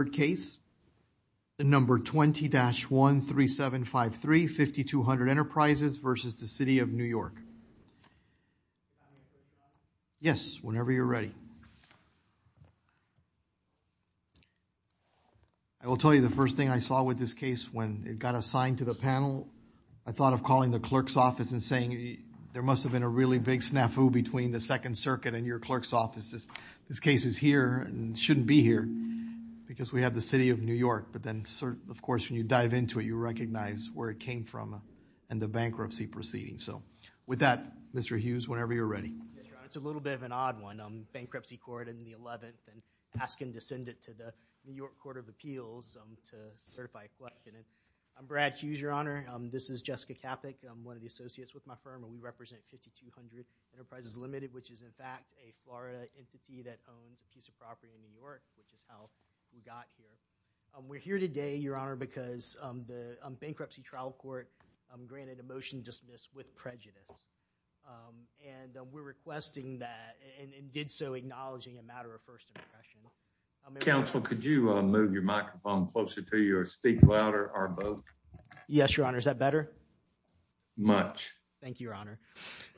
Yes, whenever you're ready. I will tell you the first thing I saw with this case when it got assigned to the panel, I thought of calling the clerk's office and saying there must have been a really big snafu between the Second Circuit and your clerk's offices. This case is here and shouldn't be here because we have the City of New York. But then, of course, when you dive into it, you recognize where it came from and the bankruptcy proceeding. So with that, Mr. Hughes, whenever you're ready. Yes, Your Honor. It's a little bit of an odd one. Bankruptcy court in the 11th and asking to send it to the New York Court of Appeals to certify a clerk. I'm Brad Hughes, Your Honor. This is Jessica Capik. I'm one of the associates with my firm and we represent 5200 Enterprises Limited, which is in fact a Florida entity that owns a piece of property in New York, which is how we got here. We're here today, Your Honor, because the bankruptcy trial court granted a motion dismissed with prejudice and we're requesting that and did so acknowledging a matter of first impression. Counsel, could you move your microphone closer to you or speak louder or both? Yes, Your Honor. Is that better? Much. Thank you, Your Honor.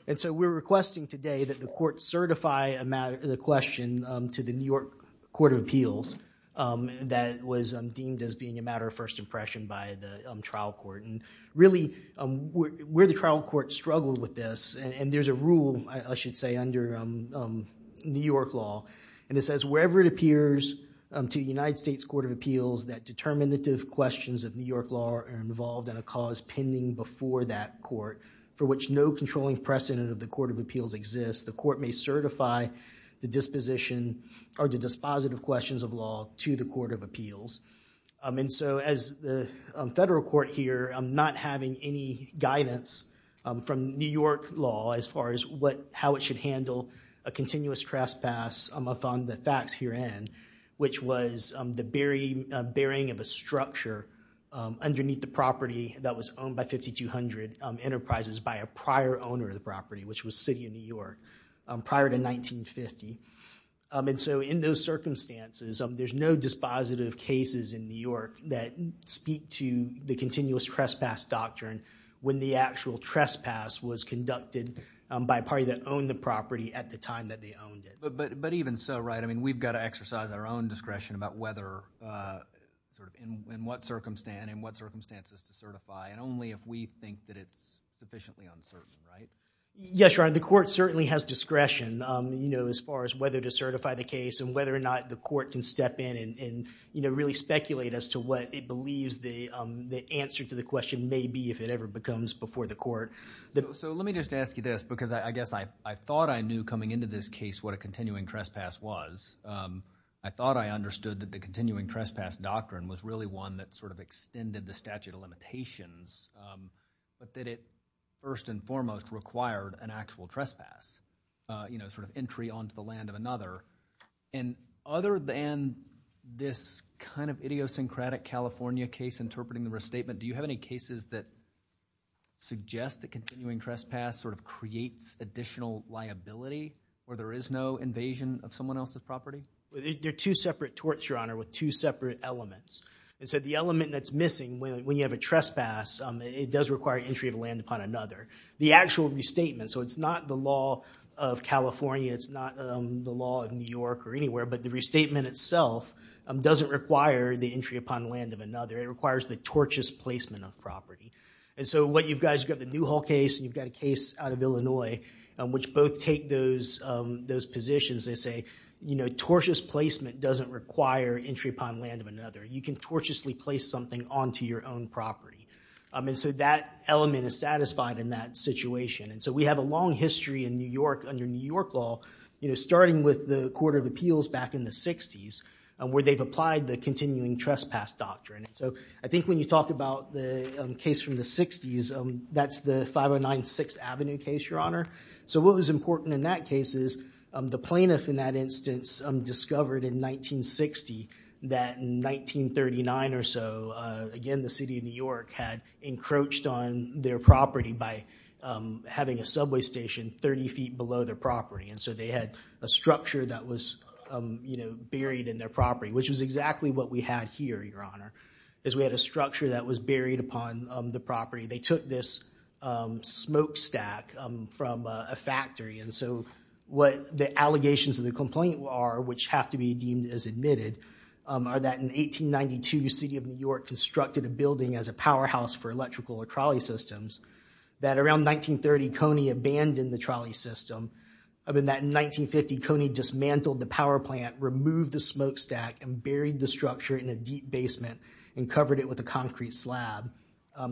And so we're requesting today that the court certify the question to the New York Court of Appeals that was deemed as being a matter of first impression by the trial court. And really, where the trial court struggled with this, and there's a rule, I should say, under New York law, and it says wherever it appears to the United States Court of Appeals that determinative questions of New York law are involved in a cause pending before that court for which no controlling precedent of the Court of Appeals exists, the court may certify the disposition or the dispositive questions of law to the Court of Appeals. And so as the federal court here, I'm not having any guidance from New York law as far as how it should handle a continuous trespass upon the facts herein, which was the bearing of a structure underneath the property that was owned by 5200 Enterprises by a prior owner of the property, which was City of New York prior to 1950. And so in those circumstances, there's no dispositive cases in New York that speak to the continuous trespass doctrine when the actual trespass was conducted by a party that owned the property at the time that they owned it. But even so, right, I mean, we've got to exercise our own discretion about whether, sort of, in what circumstances to certify, and only if we think that it's sufficiently uncertain, right? Yes, Your Honor, the court certainly has discretion, you know, as far as whether to certify the case and whether or not the court can step in and, you know, really speculate as to what it believes the answer to the question may be, if it ever becomes before the court. So let me just ask you this, because I guess I thought I knew coming into this case what a continuing trespass was. I thought I understood that the continuing trespass doctrine was really one that sort of extended the statute of limitations, but that it first and foremost required an actual trespass, you know, sort of entry onto the land of another. And other than this kind of idiosyncratic California case interpreting the restatement, do you have any cases that suggest that continuing trespass sort of creates additional liability where there is no invasion of someone else's property? They're two separate torts, Your Honor, with two separate elements. And so the element that's missing when you have a trespass, it does require entry of land upon another. The actual restatement, so it's not the law of California, it's not the law of New York or anywhere, but the restatement itself doesn't require the entry upon land of another. It requires the tortious placement of property. And so what you've got is you've got the case out of Illinois, which both take those positions. They say, you know, tortious placement doesn't require entry upon land of another. You can tortiously place something onto your own property. And so that element is satisfied in that situation. And so we have a long history in New York under New York law, you know, starting with the Court of Appeals back in the 60s where they've applied the continuing trespass doctrine. And so I think when you Your Honor. So what was important in that case is the plaintiff in that instance discovered in 1960 that in 1939 or so, again, the city of New York had encroached on their property by having a subway station 30 feet below their property. And so they had a structure that was, you know, buried in their property, which was exactly what we had here, Your Honor, is we had a structure that was buried upon the property. They took this smokestack from a factory. And so what the allegations of the complaint are, which have to be deemed as admitted, are that in 1892, the city of New York constructed a building as a powerhouse for electrical or trolley systems, that around 1930, Coney abandoned the trolley system. I mean, that in 1950, Coney dismantled the power plant, removed the smokestack, and buried the structure in a deep basement and covered it with a concrete slab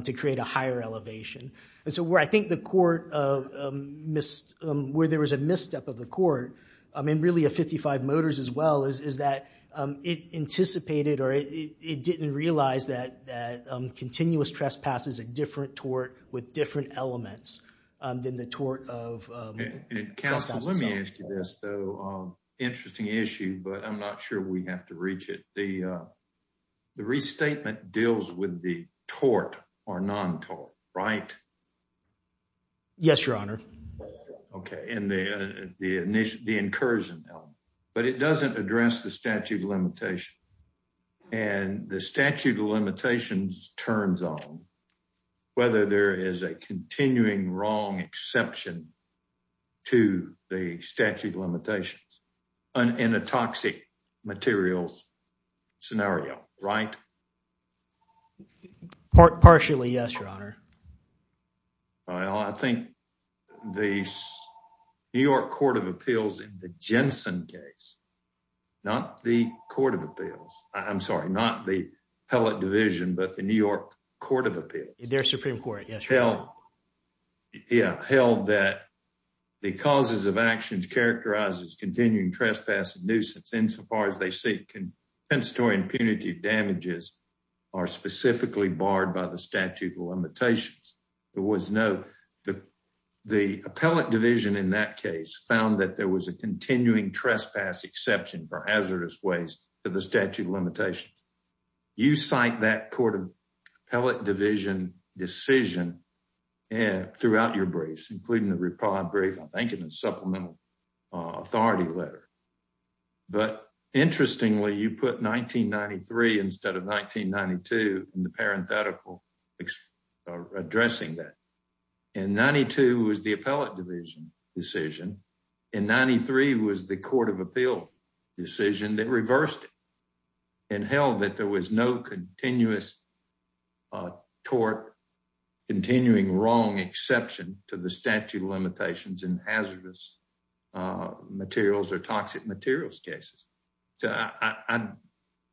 to create a higher elevation. And so where I think the court missed, where there was a misstep of the court, I mean, really a 55 Motors as well, is that it anticipated or it didn't realize that continuous trespass is a different tort with different elements than the tort of trespassing. Counsel, let me ask you this, though. Interesting issue, but I'm not sure we have to reach it The restatement deals with the tort or non-tort, right? Yes, Your Honor. Okay. And the incursion element. But it doesn't address the statute of limitations. And the statute of limitations turns on whether there is a continuing wrong exception to the statute of limitations in a toxic materials scenario, right? Partially, yes, Your Honor. Well, I think the New York Court of Appeals in the Jensen case, not the Court of Appeals, I'm sorry, not the appellate division, but the New York Court of Appeals. Their Supreme Court, yes. Held that the causes of actions characterized as continuing trespass and nuisance insofar as they seek compensatory and punitive damages are specifically barred by the statute of limitations. There was no, the appellate division in that case found that there was a continuing trespass exception for hazardous waste to the statute of limitations. You cite that Court of Appellate Division decision throughout your briefs, including the Repod brief, I think in the supplemental authority letter. But interestingly, you put 1993 instead of 1992 in the parenthetical addressing that. And 92 was the appellate division decision. And 93 was the Court of Appeal decision that reversed it and held that there was no continuous tort, continuing wrong exception to the statute of limitations in hazardous materials or toxic materials cases.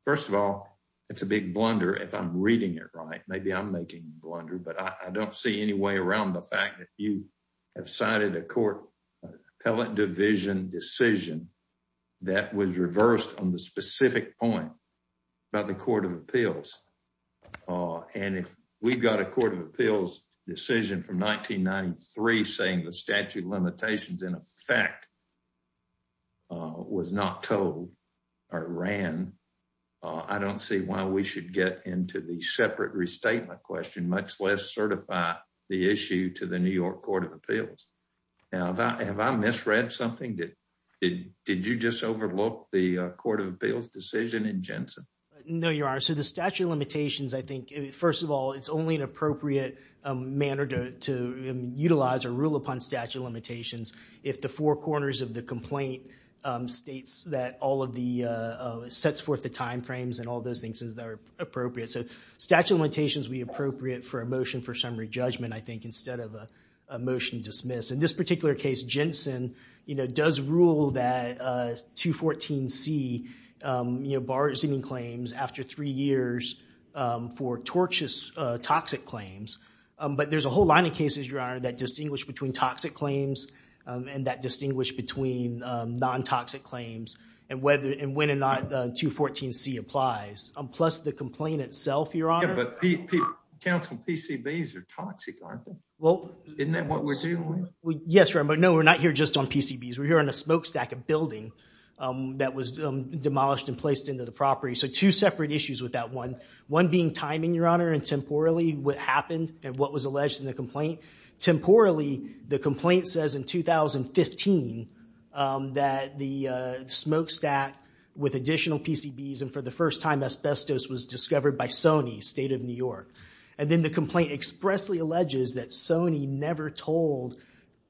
First of all, it's a big blunder if I'm reading it right. Maybe I'm making a blunder, but I don't see any way around the fact that you have cited a court appellate division decision that was reversed on the specific point by the Court of Appeals. And if we've got a Court of Appeals decision from 1993 saying the statute of limitations in effect was not told or ran, I don't see why we should get into the separate restatement question, much less certify the issue to the New York Court of Appeals. Now, have I misread something? Did you just overlook the Court of Appeals decision in Jensen? No, you are. So the statute of limitations, I think, first of all, it's only an appropriate manner to utilize or rule upon statute of limitations if the four corners of the complaint states that all of the, sets forth the time frames and all those things that are appropriate. So statute of limitations would be appropriate for a motion for summary judgment, I think, instead of a motion to dismiss. In this particular case, Jensen, you know, does rule that 214C, you know, bars any claims after three years for tortuous, toxic claims. But there's a whole line of cases, Your Honor, that distinguish between toxic claims and that distinguish between non-toxic claims and whether, and when or not 214C applies. Plus the complaint itself, Your Honor. But counseling PCBs are toxic, aren't they? Well. Isn't that what we're dealing with? Yes, Your Honor, but no, we're not here just on PCBs. We're here on a smokestack, a building that was demolished and placed into the property. So two separate issues with that one. One being timing, Your Honor, and temporally what happened and what was alleged in the complaint. Temporally, the complaint says in 2015 that the smokestack with additional PCBs and for the first time asbestos was discovered by Sony, State of New York. And then the complaint expressly alleges that Sony never told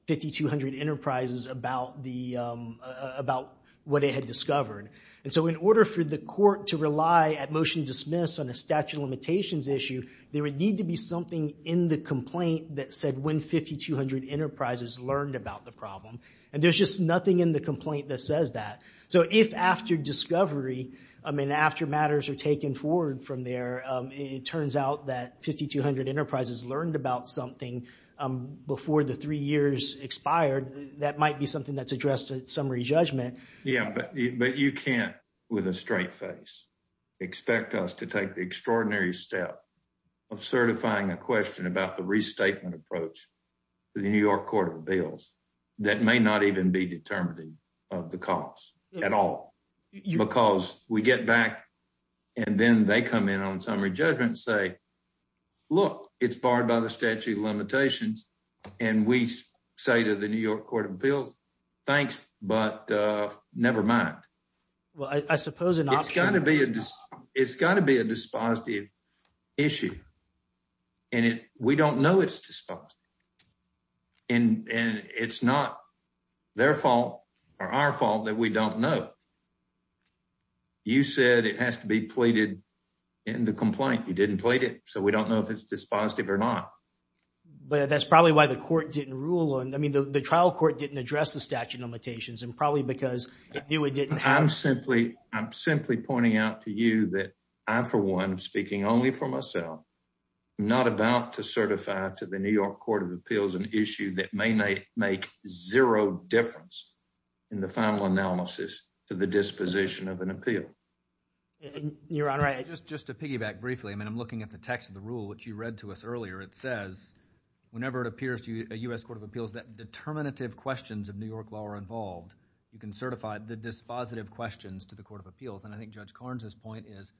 5200 Enterprises about the, about what it had discovered. And so in order for the court to rely at motion dismiss on a statute of limitations issue, there would need to be something in the complaint that said when 5200 Enterprises learned about the problem. And there's just nothing in the complaint that says that. So if after discovery, I mean, after matters are taken forward from there, it turns out that 5200 Enterprises learned about something before the three years expired. That might be something that's addressed at summary judgment. Yeah, but you can't, with a straight face, expect us to take the extraordinary step of certifying a question about the restatement approach to the New York Court of Appeals that may not even be determinative of the cause at all. Because we get back and then they come in on summary judgment and say, look, it's barred by the statute of limitations. And we say to the New York Court of Appeals, thanks, but never mind. Well, I suppose it's got to be a dispositive issue. And we don't know it's dispositive. And it's not their fault or our fault that we don't know. You said it has to be pleaded in the complaint. You didn't plead it. So we don't know if it's dispositive or not. But that's probably why the court didn't rule on. I mean, the trial court didn't address the statute of limitations and probably because it knew it didn't. I'm simply, I'm simply pointing out to you that I, for one, speaking only for myself, not about to certify to the New York Court of Appeals an issue that may make zero difference in the final analysis to the disposition of an appeal. Your Honor, just to piggyback briefly. I mean, I'm looking at the text of the rule, which you read to us earlier. It says whenever it appears to a U.S. Court of Appeals that determinative questions of New York law are involved. You can certify the dispositive questions to the Court of Appeals. And I think Judge Carnes's point is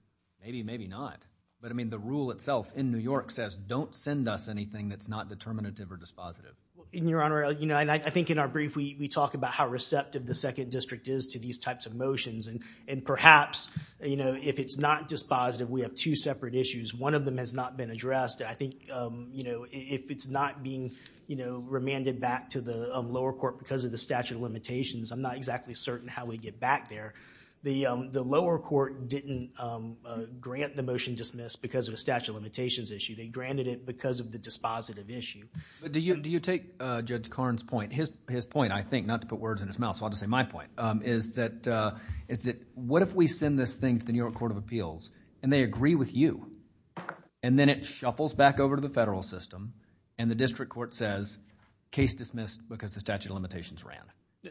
maybe, maybe not. But I mean, the rule itself in New York says don't send us anything that's not determinative or dispositive. Your Honor, you know, and I think in our brief, we talk about how receptive the Second District is to these types of motions. And perhaps, you know, if it's not dispositive, we have two separate issues. One of them has not been addressed. I think, you know, if it's not being, you know, remanded back to the lower court because of the statute of limitations, I'm not exactly certain how we get back there. The lower court didn't grant the motion dismissed because of a statute of limitations issue. They granted it because of the dispositive issue. But do you take Judge Carnes's point, his point, I think, not to put words in his mouth, so I'll just say my point, is that what if we send this thing to the New York Court of Appeals and they agree with you and then it shuffles back over to the federal system and the district court says case dismissed because the statute of limitations ran.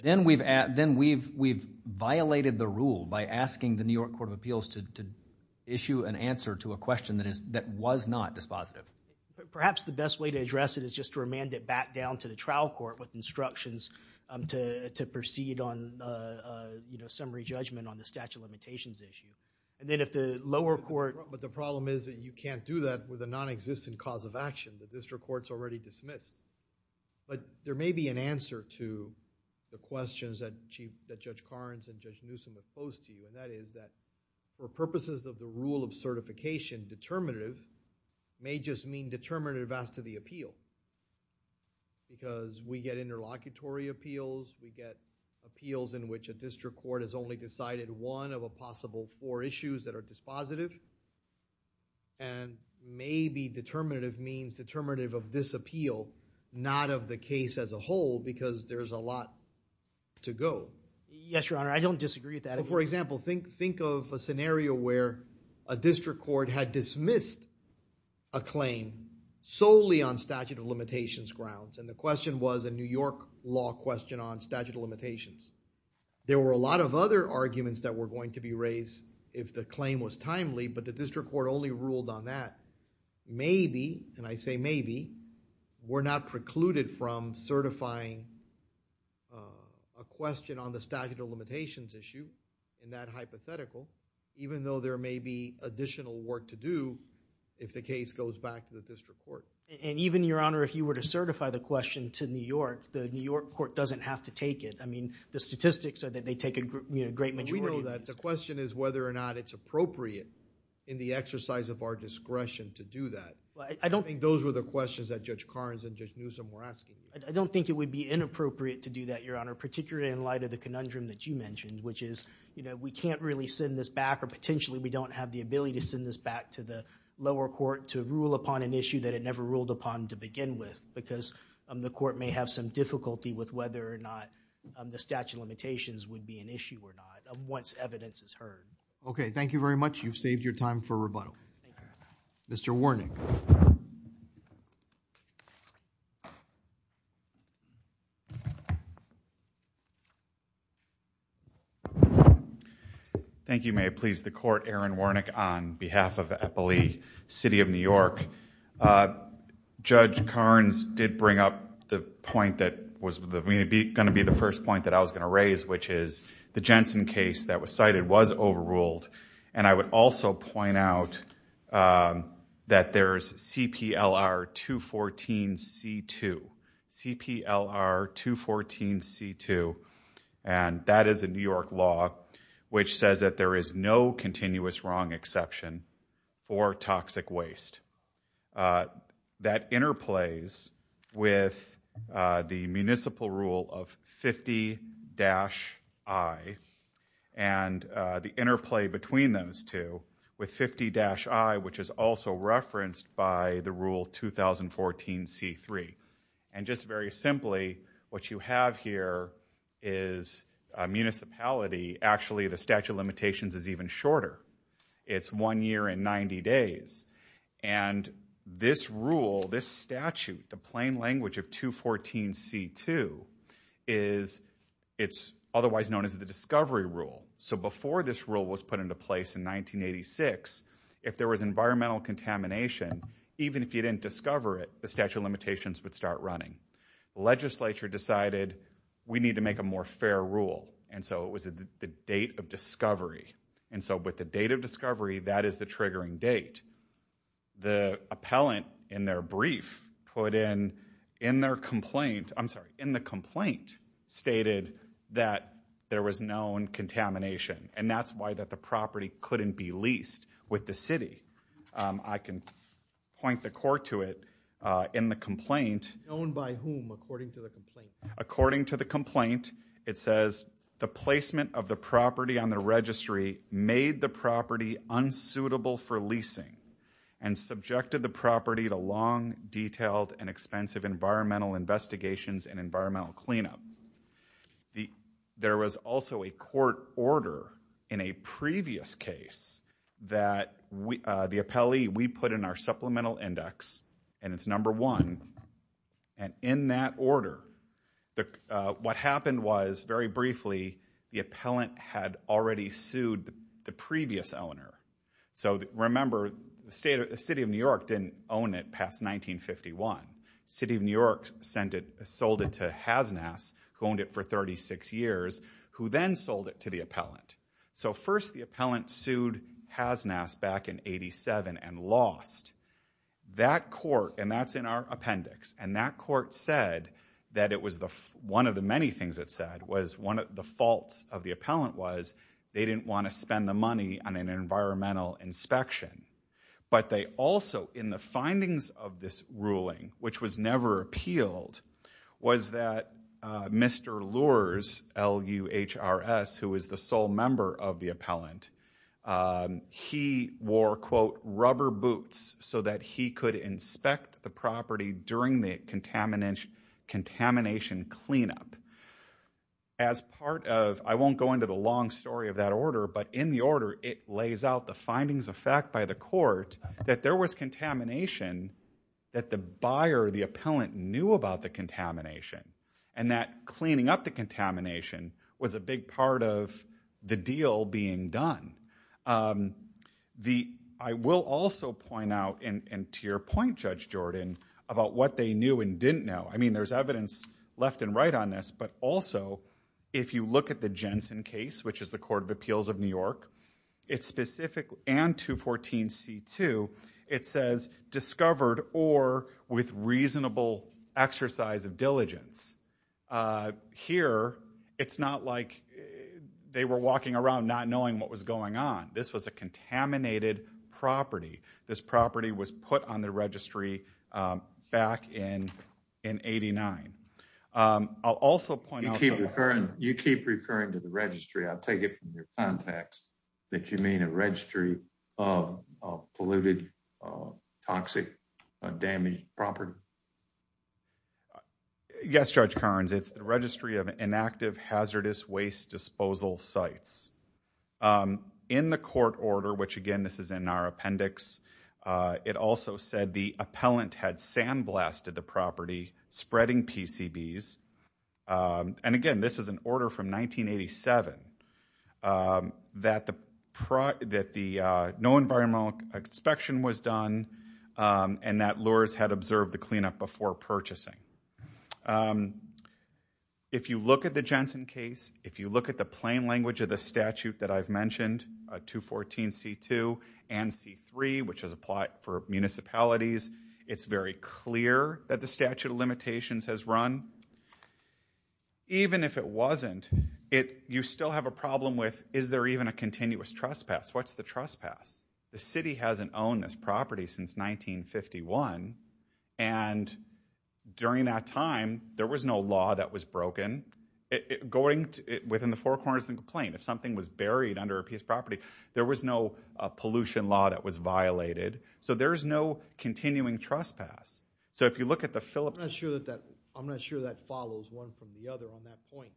Then we've violated the rule by asking the New York Court of Appeals to issue an answer to a question that was not dispositive. But perhaps the best way to address it is just to remand it back down to the trial court with instructions to proceed on, you know, summary judgment on the statute of limitations issue. And then if the lower court... But the problem is that you can't do that with a non-existent cause of action. The district court's already dismissed. But there may be an answer to the questions that Judge Carnes and Judge Newsom have posed to you and that is that for purposes of the rule of certification, determinative may just mean determinative as to the appeal. Because we get interlocutory appeals, we get appeals in which a district court has only decided one of a possible four issues that are dispositive. And maybe determinative means determinative of this appeal, not of the case as a whole because there's a lot to go. Yes, Your Honor. I don't disagree with that. But for example, think of a scenario where a district court had dismissed a claim solely on statute of limitations grounds and the question was a New York law question on statute of limitations. There were a lot of other arguments that were going to be raised if the claim was timely but the district court only ruled on that. Maybe, and I say maybe, we're not precluded from certifying a question on the statute of limitations issue in that hypothetical even though there may be additional work to do if the case goes back to the district court. And even, Your Honor, if you were to certify the question to New York, the New York court doesn't have to take it. I mean, the statistics are that they take a great majority... in the exercise of our discretion to do that. Those were the questions that Judge Karnes and Judge Newsom were asking. I don't think it would be inappropriate to do that, Your Honor, particularly in light of the conundrum that you mentioned which is we can't really send this back or potentially we don't have the ability to send this back to the lower court to rule upon an issue that it never ruled upon to begin with because the court may have some difficulty with whether or not the statute of limitations would be an issue or not once evidence is heard. Okay. Thank you very much. You've saved your time for rebuttal. Mr. Warnick. Thank you. May it please the court. Aaron Warnick on behalf of Eppley City of New York. Judge Karnes did bring up the point that was going to be the first point that I was going to raise which is the Jensen case that was cited was overruled and I would also point out that there's CPLR 214 C2. CPLR 214 C2 and that is a New York law which says that there is no continuous wrong exception for toxic waste. That interplays with the municipal rule of 50-I and the interplay between those two with 50-I which is also referenced by the rule 2014 C3 and just very simply what you have here is a municipality actually the statute of this rule this statute the plain language of 214 C2 is it's otherwise known as the discovery rule. So before this rule was put into place in 1986 if there was environmental contamination even if you didn't discover it the statute limitations would start running. Legislature decided we need to make a more fair rule and so it was the date of discovery and so with the date of discovery that is the triggering date. The appellant in their brief put in in their complaint I'm sorry in the complaint stated that there was known contamination and that's why that the property couldn't be leased with the city. I can point the court to it in the complaint. It's known by whom according to the complaint? According to the complaint it says the placement of the property on the and subjected the property to long detailed and expensive environmental investigations and environmental cleanup. There was also a court order in a previous case that the appellee we put in our supplemental index and it's number one and in that order what happened was very briefly the appellant had already sued the previous owner. So remember the state of the city of New York didn't own it past 1951. City of New York sent it sold it to Hasnas who owned it for 36 years who then sold it to the appellant. So first the appellant sued Hasnas back in 87 and lost that court and that's in our appendix and that court said that it was the one of the many things that said was one of the faults of the appellant was they didn't want to on an environmental inspection but they also in the findings of this ruling which was never appealed was that Mr. Lurz L-U-H-R-S who is the sole member of the appellant he wore quote rubber boots so that he could inspect the property during the contamination cleanup. As part of I won't go into the long story of that order but in the order it lays out the findings of fact by the court that there was contamination that the buyer the appellant knew about the contamination and that cleaning up the contamination was a big part of the deal being done. The I will also point out and to your point Judge Jordan about what they knew and didn't know I mean there's evidence left and right on this but also if you look at the Jensen case which is the Court of Appeals of New York it's specific and 214 C2 it says discovered or with reasonable exercise of diligence. Here it's not like they were walking around not knowing what was going on this was a contaminated property this property was put on the registry back in in 89. I'll also point out you keep referring you keep referring to the registry I'll take it from your context that you mean a registry of polluted toxic damaged property yes Judge Kearns it's the registry of inactive hazardous waste disposal sites in the court order which again this is in our appendix it also said the appellant had sandblasted the property spreading PCBs and again this is an order from 1987 that the that the no environmental inspection was done and that lures had observed the cleanup before purchasing. If you look at the Jensen case if you look at the plain language of the it's very clear that the statute of limitations has run even if it wasn't it you still have a problem with is there even a continuous trespass what's the trespass the city hasn't owned this property since 1951 and during that time there was no law that was broken it going within the four corners of the complaint if something was buried under a piece of property there was no pollution law that was violated so there's no continuing trespass so if you look at the Phillips I'm not sure that that I'm not sure that follows one from the other on that point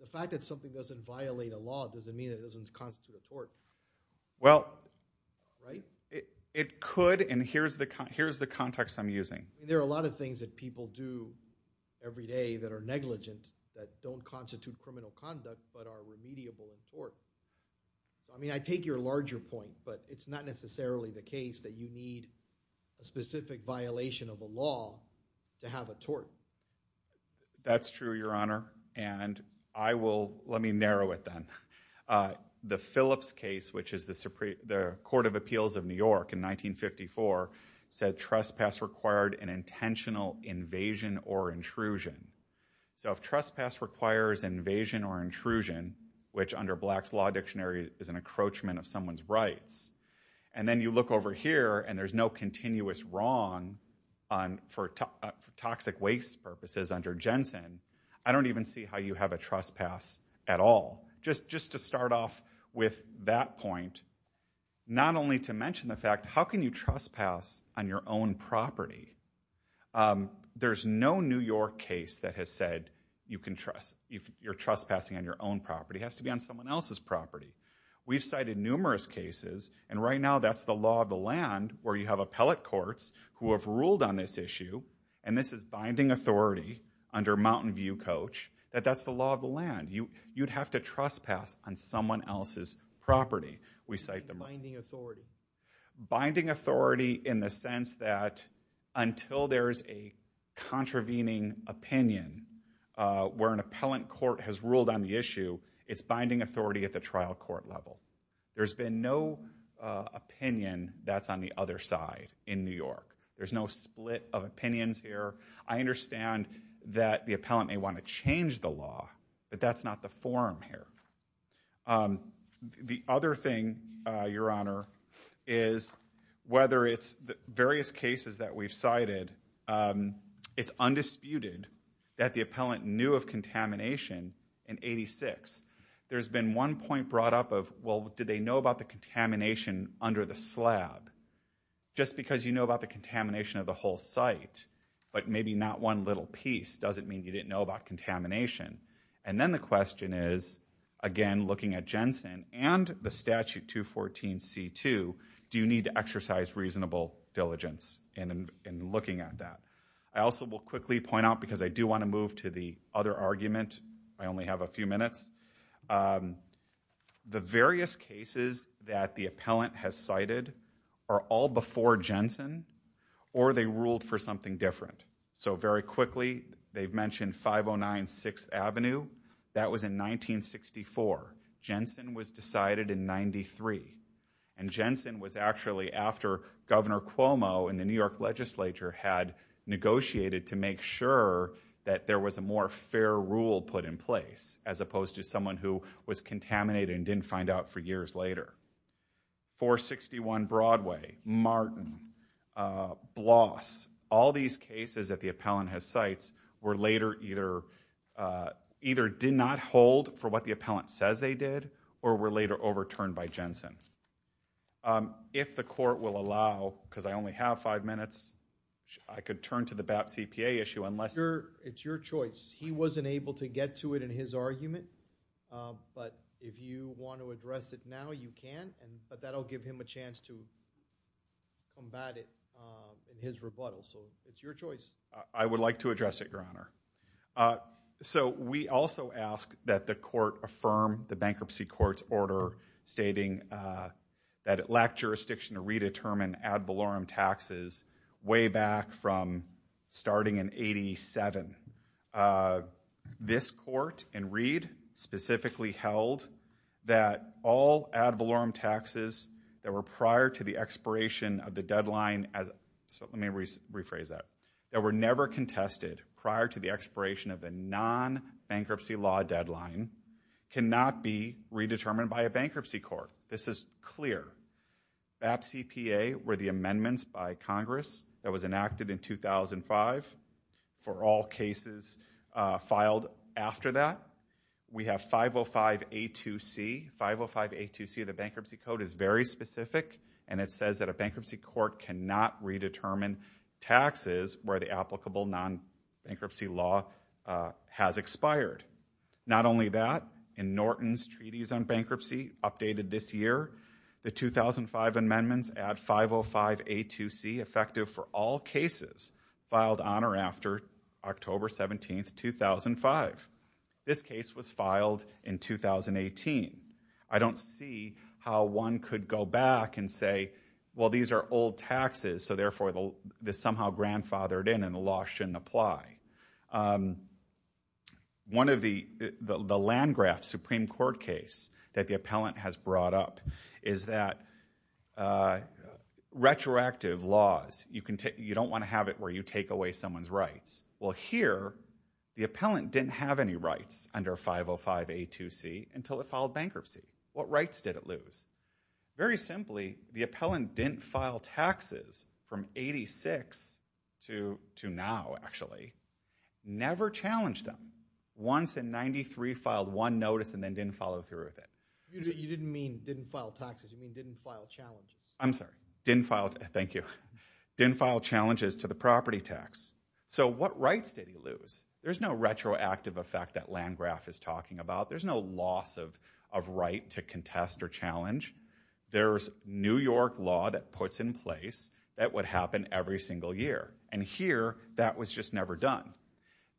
the fact that something doesn't violate a law doesn't mean it doesn't constitute a court well right it it could and here's the here's the context I'm using there are a lot of things that people do every day that are negligent that don't constitute criminal conduct but are remediable in but it's not necessarily the case that you need a specific violation of a law to have a tort that's true your honor and I will let me narrow it then the Phillips case which is the supreme the court of appeals of New York in 1954 said trespass required an intentional invasion or intrusion so if trespass requires invasion or intrusion which under black's law dictionary is an encroachment of someone's rights and then you look over here and there's no continuous wrong on for toxic waste purposes under Jensen I don't even see how you have a trespass at all just just to start off with that point not only to mention the fact how can you trespass on your own property there's no New York case that has said you can trust you're trespassing on your own property has to be on someone else's property we've cited numerous cases and right now that's the law of the land where you have appellate courts who have ruled on this issue and this is binding authority under Mountain View coach that that's the law of the land you you'd have to trespass on someone else's property we cite the binding authority binding authority in the sense that until there's a contravening opinion where an appellant court has ruled on the issue it's binding authority at the trial court level there's been no opinion that's on the other side in New York there's no split of opinions here I understand that the appellant may want to change the law but that's not the forum here the other thing your honor is whether it's the various cases that we've cited it's undisputed that the appellant knew of contamination in 86 there's been one point brought up of well did they know about the contamination under the slab just because you know about the contamination of the whole site but maybe not one little piece doesn't mean you didn't know about contamination and then the question is again looking at Jensen and the statute 214 c2 do you need to exercise reasonable diligence and in looking at that I also will quickly point out because I do want to move to the other argument I only have a few minutes the various cases that the appellant has cited are all before Jensen or they ruled for something different so very quickly they've mentioned 509 6th Avenue that was in 1964 Jensen was decided in 93 and Jensen was actually after governor Cuomo in the New York legislature had negotiated to make sure that there was a more fair rule put in place as opposed to someone who was contaminated and didn't find out for years later 461 Broadway Martin Bloss all these cases that the appellant has sites were later either either did not hold for what the appellant says they did or were later overturned by Jensen if the court will allow because I only have five minutes I could turn to the BAP CPA issue unless you're it's your choice he wasn't able to get to it in his argument but if you want to address it now you can and but that'll give him a chance to combat it in his rebuttal so it's your choice I would like to address it your honor so we also ask that the court affirm the bankruptcy court's order stating that it lacked jurisdiction to redetermine ad valorem taxes way back from starting in 87 uh this court and reed specifically held that all ad valorem taxes that were prior to the expiration of the deadline as so let me rephrase that that were never contested prior to the expiration of the non-bankruptcy law deadline cannot be redetermined by a bankruptcy court this is clear BAP CPA were the amendments by congress that was enacted in 2005 for all cases filed after that we have 505 a2c 505 a2c the bankruptcy code is very specific and it says that a bankruptcy court cannot redetermine taxes where the applicable non-bankruptcy law has expired not only that in Norton's treaties on bankruptcy updated this year the 2005 amendments at 505 a2c effective for all cases filed on or after October 17th 2005 this case was filed in 2018 I don't see how one could go back and say well these are old taxes so therefore the somehow grandfathered in and the law shouldn't apply um one of the the land graph supreme court case that the appellant has brought up is that uh retroactive laws you can take you don't want to have it where you take away someone's rights well here the appellant didn't have any rights under 505 a2c until it filed bankruptcy what rights did it lose very simply the appellant didn't file taxes from 86 to to now actually never challenged them once in 93 filed one notice and then didn't follow through with it you didn't mean didn't file taxes you mean didn't file challenge I'm sorry didn't file thank you didn't file challenges to the property tax so what rights did he lose there's no retroactive effect that land graph is talking about there's no loss of right to contest or challenge there's new york law that puts in place that would happen every single year and here that was just never done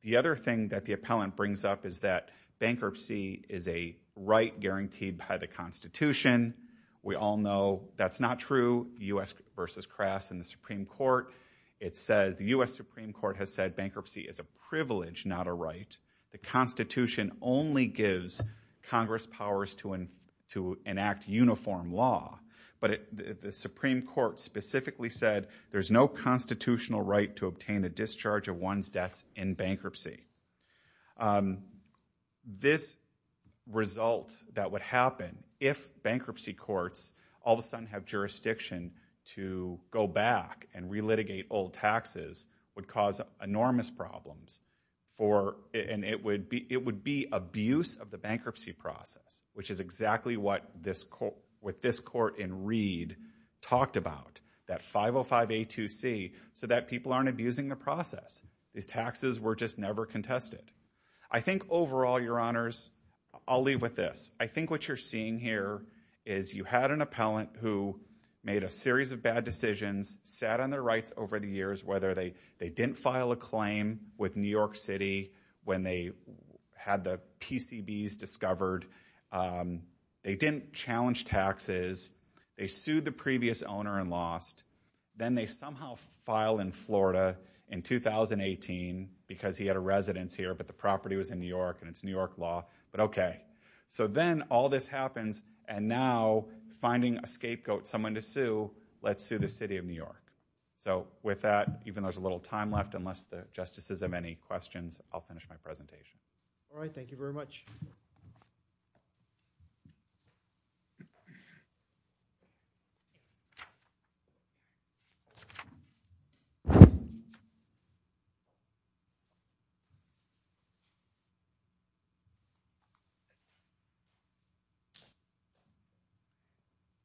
the other thing that the appellant brings up is that bankruptcy is a right guaranteed by the constitution we all know that's not true u.s versus crass in the supreme court it says the u.s supreme court has said bankruptcy is a to enact uniform law but the supreme court specifically said there's no constitutional right to obtain the discharge of one's debts in bankruptcy this result that would happen if bankruptcy courts all of a sudden have jurisdiction to go back and relitigate old is exactly what this court with this court in reed talked about that 505 a2c so that people aren't abusing the process these taxes were just never contested I think overall your honors I'll leave with this I think what you're seeing here is you had an appellant who made a series of bad decisions sat on their rights over the years whether they they didn't file a claim with they didn't challenge taxes they sued the previous owner and lost then they somehow file in florida in 2018 because he had a residence here but the property was in new york and it's new york law but okay so then all this happens and now finding a scapegoat someone to sue let's sue the city of new york so with that even though there's a little time left unless the justices have any questions I'll finish my presentation all right thank you very much so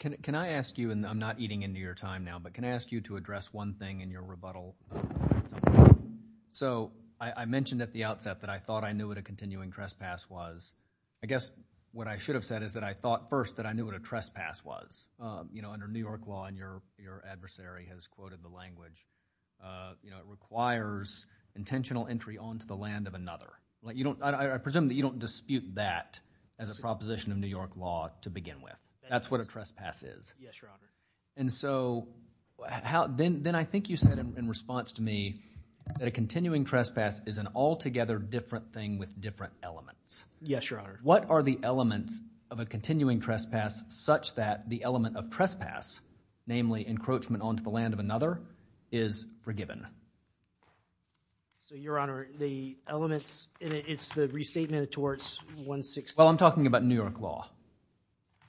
can can I ask you and I'm not eating into your time now but can I ask you to address one thing in your rebuttal so I I mentioned at the outset that I thought I knew what a continuing trespass was I guess what I should have said is that I thought first that I knew what a trespass was you know under new york law and your your adversary has quoted the language uh you know it requires intentional entry onto the land of another like you don't I presume that you don't dispute that as a proposition of new york law to begin with that's what a trespass is yes your honor and so how then then I think you said in response to me that a continuing trespass is an altogether different thing with different elements yes your honor what are the elements of a continuing trespass such that the element of trespass namely encroachment onto the land of another is forgiven so your honor the elements it's the restatement towards 160 well I'm talking about new york law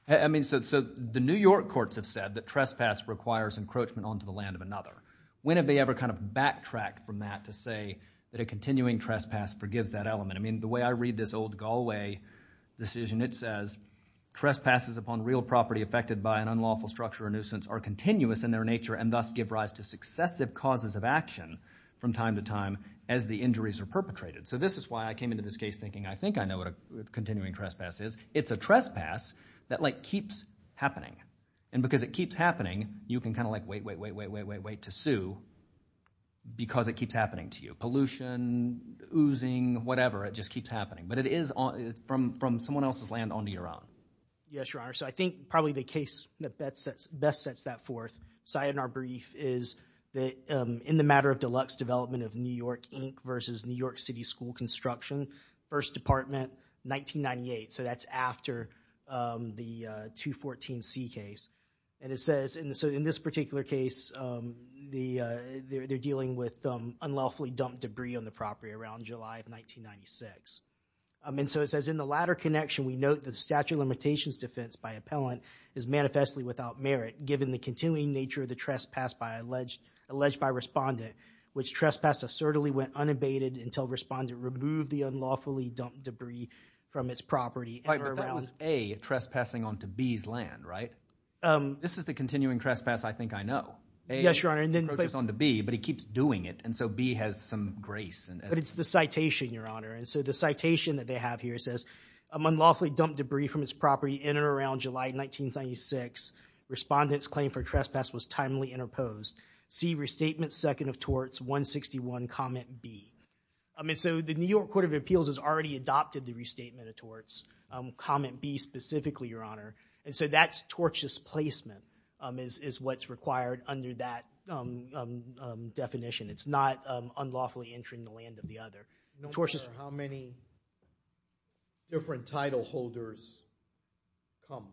I mean so the new york courts have said that trespass requires encroachment onto the land of a continuing trespass forgives that element I mean the way I read this old Galway decision it says trespasses upon real property affected by an unlawful structure or nuisance are continuous in their nature and thus give rise to successive causes of action from time to time as the injuries are perpetrated so this is why I came into this case thinking I think I know what a continuing trespass is it's a trespass that like keeps happening and because it keeps happening you can kind of like wait wait wait wait wait wait wait to sue because it keeps happening to you pollution oozing whatever it just keeps happening but it is on it's from from someone else's land onto your own yes your honor so I think probably the case that best sets that forth so in our brief is that in the matter of deluxe development of new york inc versus new york city school construction first department 1998 so that's after the 214 c case and it says in the so in this particular case the they're dealing with unlawfully dumped debris on the property around july of 1996 and so it says in the latter connection we note the statute of limitations defense by appellant is manifestly without merit given the continuing nature of the trespass by alleged alleged by respondent which trespass assertedly went unabated until respondent removed the unlawfully dumped debris from its property all right that was a trespassing onto b's land right um this is the continuing trespass I think I know yes your honor and then just onto b but he keeps doing it and so b has some grace and but it's the citation your honor and so the citation that they have here says unlawfully dumped debris from its property in and around july 1996 respondents claim for trespass was timely interposed c restatement second of torts 161 comment b i mean so the new court of appeals has already adopted the restatement of torts comment b specifically your honor and so that's tortious placement um is is what's required under that um um definition it's not um unlawfully entering the land of the other torches how many different title holders come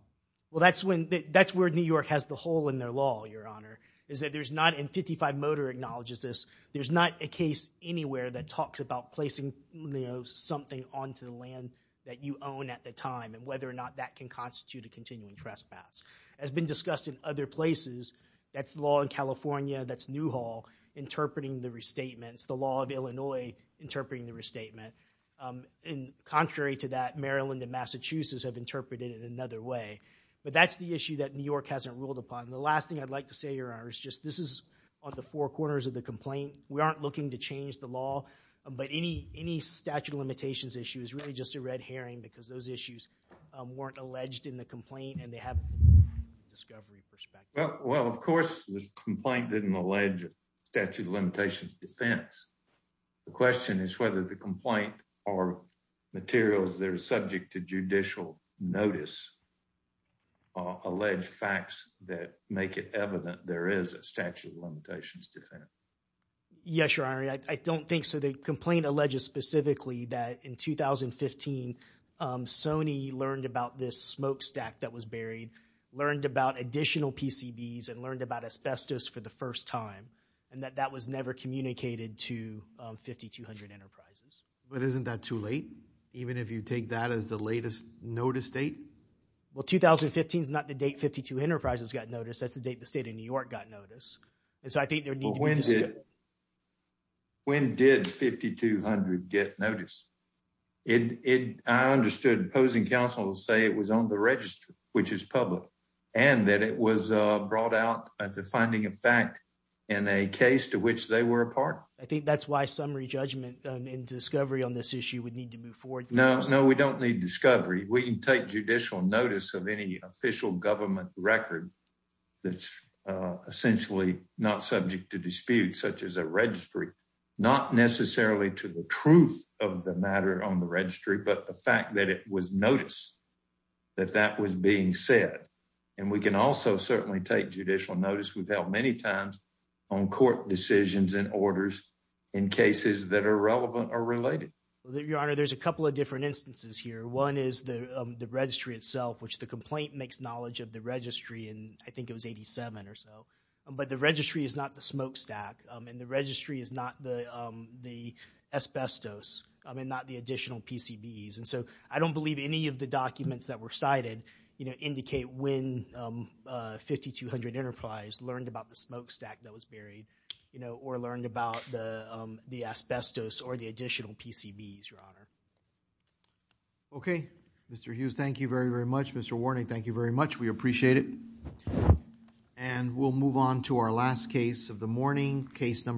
well that's when that's where new york has the hole in their law your honor is that there's not in 55 motor acknowledges this there's not a case anywhere that talks about placing you know something onto the land that you own at the time and whether or not that can constitute a continuing trespass has been discussed in other places that's the law in california that's new hall interpreting the restatements the law of illinois interpreting the restatement um in contrary to that maryland and massachusetts have interpreted it another way but that's the issue that new york hasn't ruled upon the last thing i'd like to say your honor is just this is on the four corners of the complaint we aren't looking to change the law but any any statute of limitations issue is really just a red herring because those issues weren't alleged in the complaint and they have a discovery perspective well of course this complaint didn't allege statute of limitations defense the question is whether the complaint or materials they're subject to judicial notice are alleged facts that make it evident there is a statute of limitations defense yes your honor i don't think so the complaint alleges specifically that in 2015 um sony learned about this smokestack that was buried learned about additional pcbs and learned about asbestos for the first time and that that was never communicated to 5200 enterprises but isn't that too late even if you take that as the latest notice date well 2015 is not the date 52 enterprises got notice that's the date the state of new york got notice and so i think there needs when did 5200 get notice it it i understood opposing counsel to say it was on the register which is public and that it was uh brought out at the finding of fact in a case to which they were a part i think that's why summary judgment and discovery on this issue would need to move forward no no we don't need discovery we can take judicial notice of any official government record that's uh essentially not subject to dispute such as a registry not necessarily to the truth of the matter on the registry but the fact that it was noticed that that was being said and we can also certainly take judicial notice we've held many times on court decisions and orders in cases that are relevant or related your honor there's a couple of different instances here one is the the registry itself which the complaint makes knowledge of the registry and i think it was 87 or so but the registry is not the smokestack and the registry is not the um the asbestos i mean not the additional pcbs and so i don't believe any of the documents that were cited you know when 5200 enterprise learned about the smokestack that was buried you know or learned about the um the asbestos or the additional pcbs your honor okay mr hughes thank you very very much mr warning thank you very much we appreciate it and we'll move on to our last case of the morning case number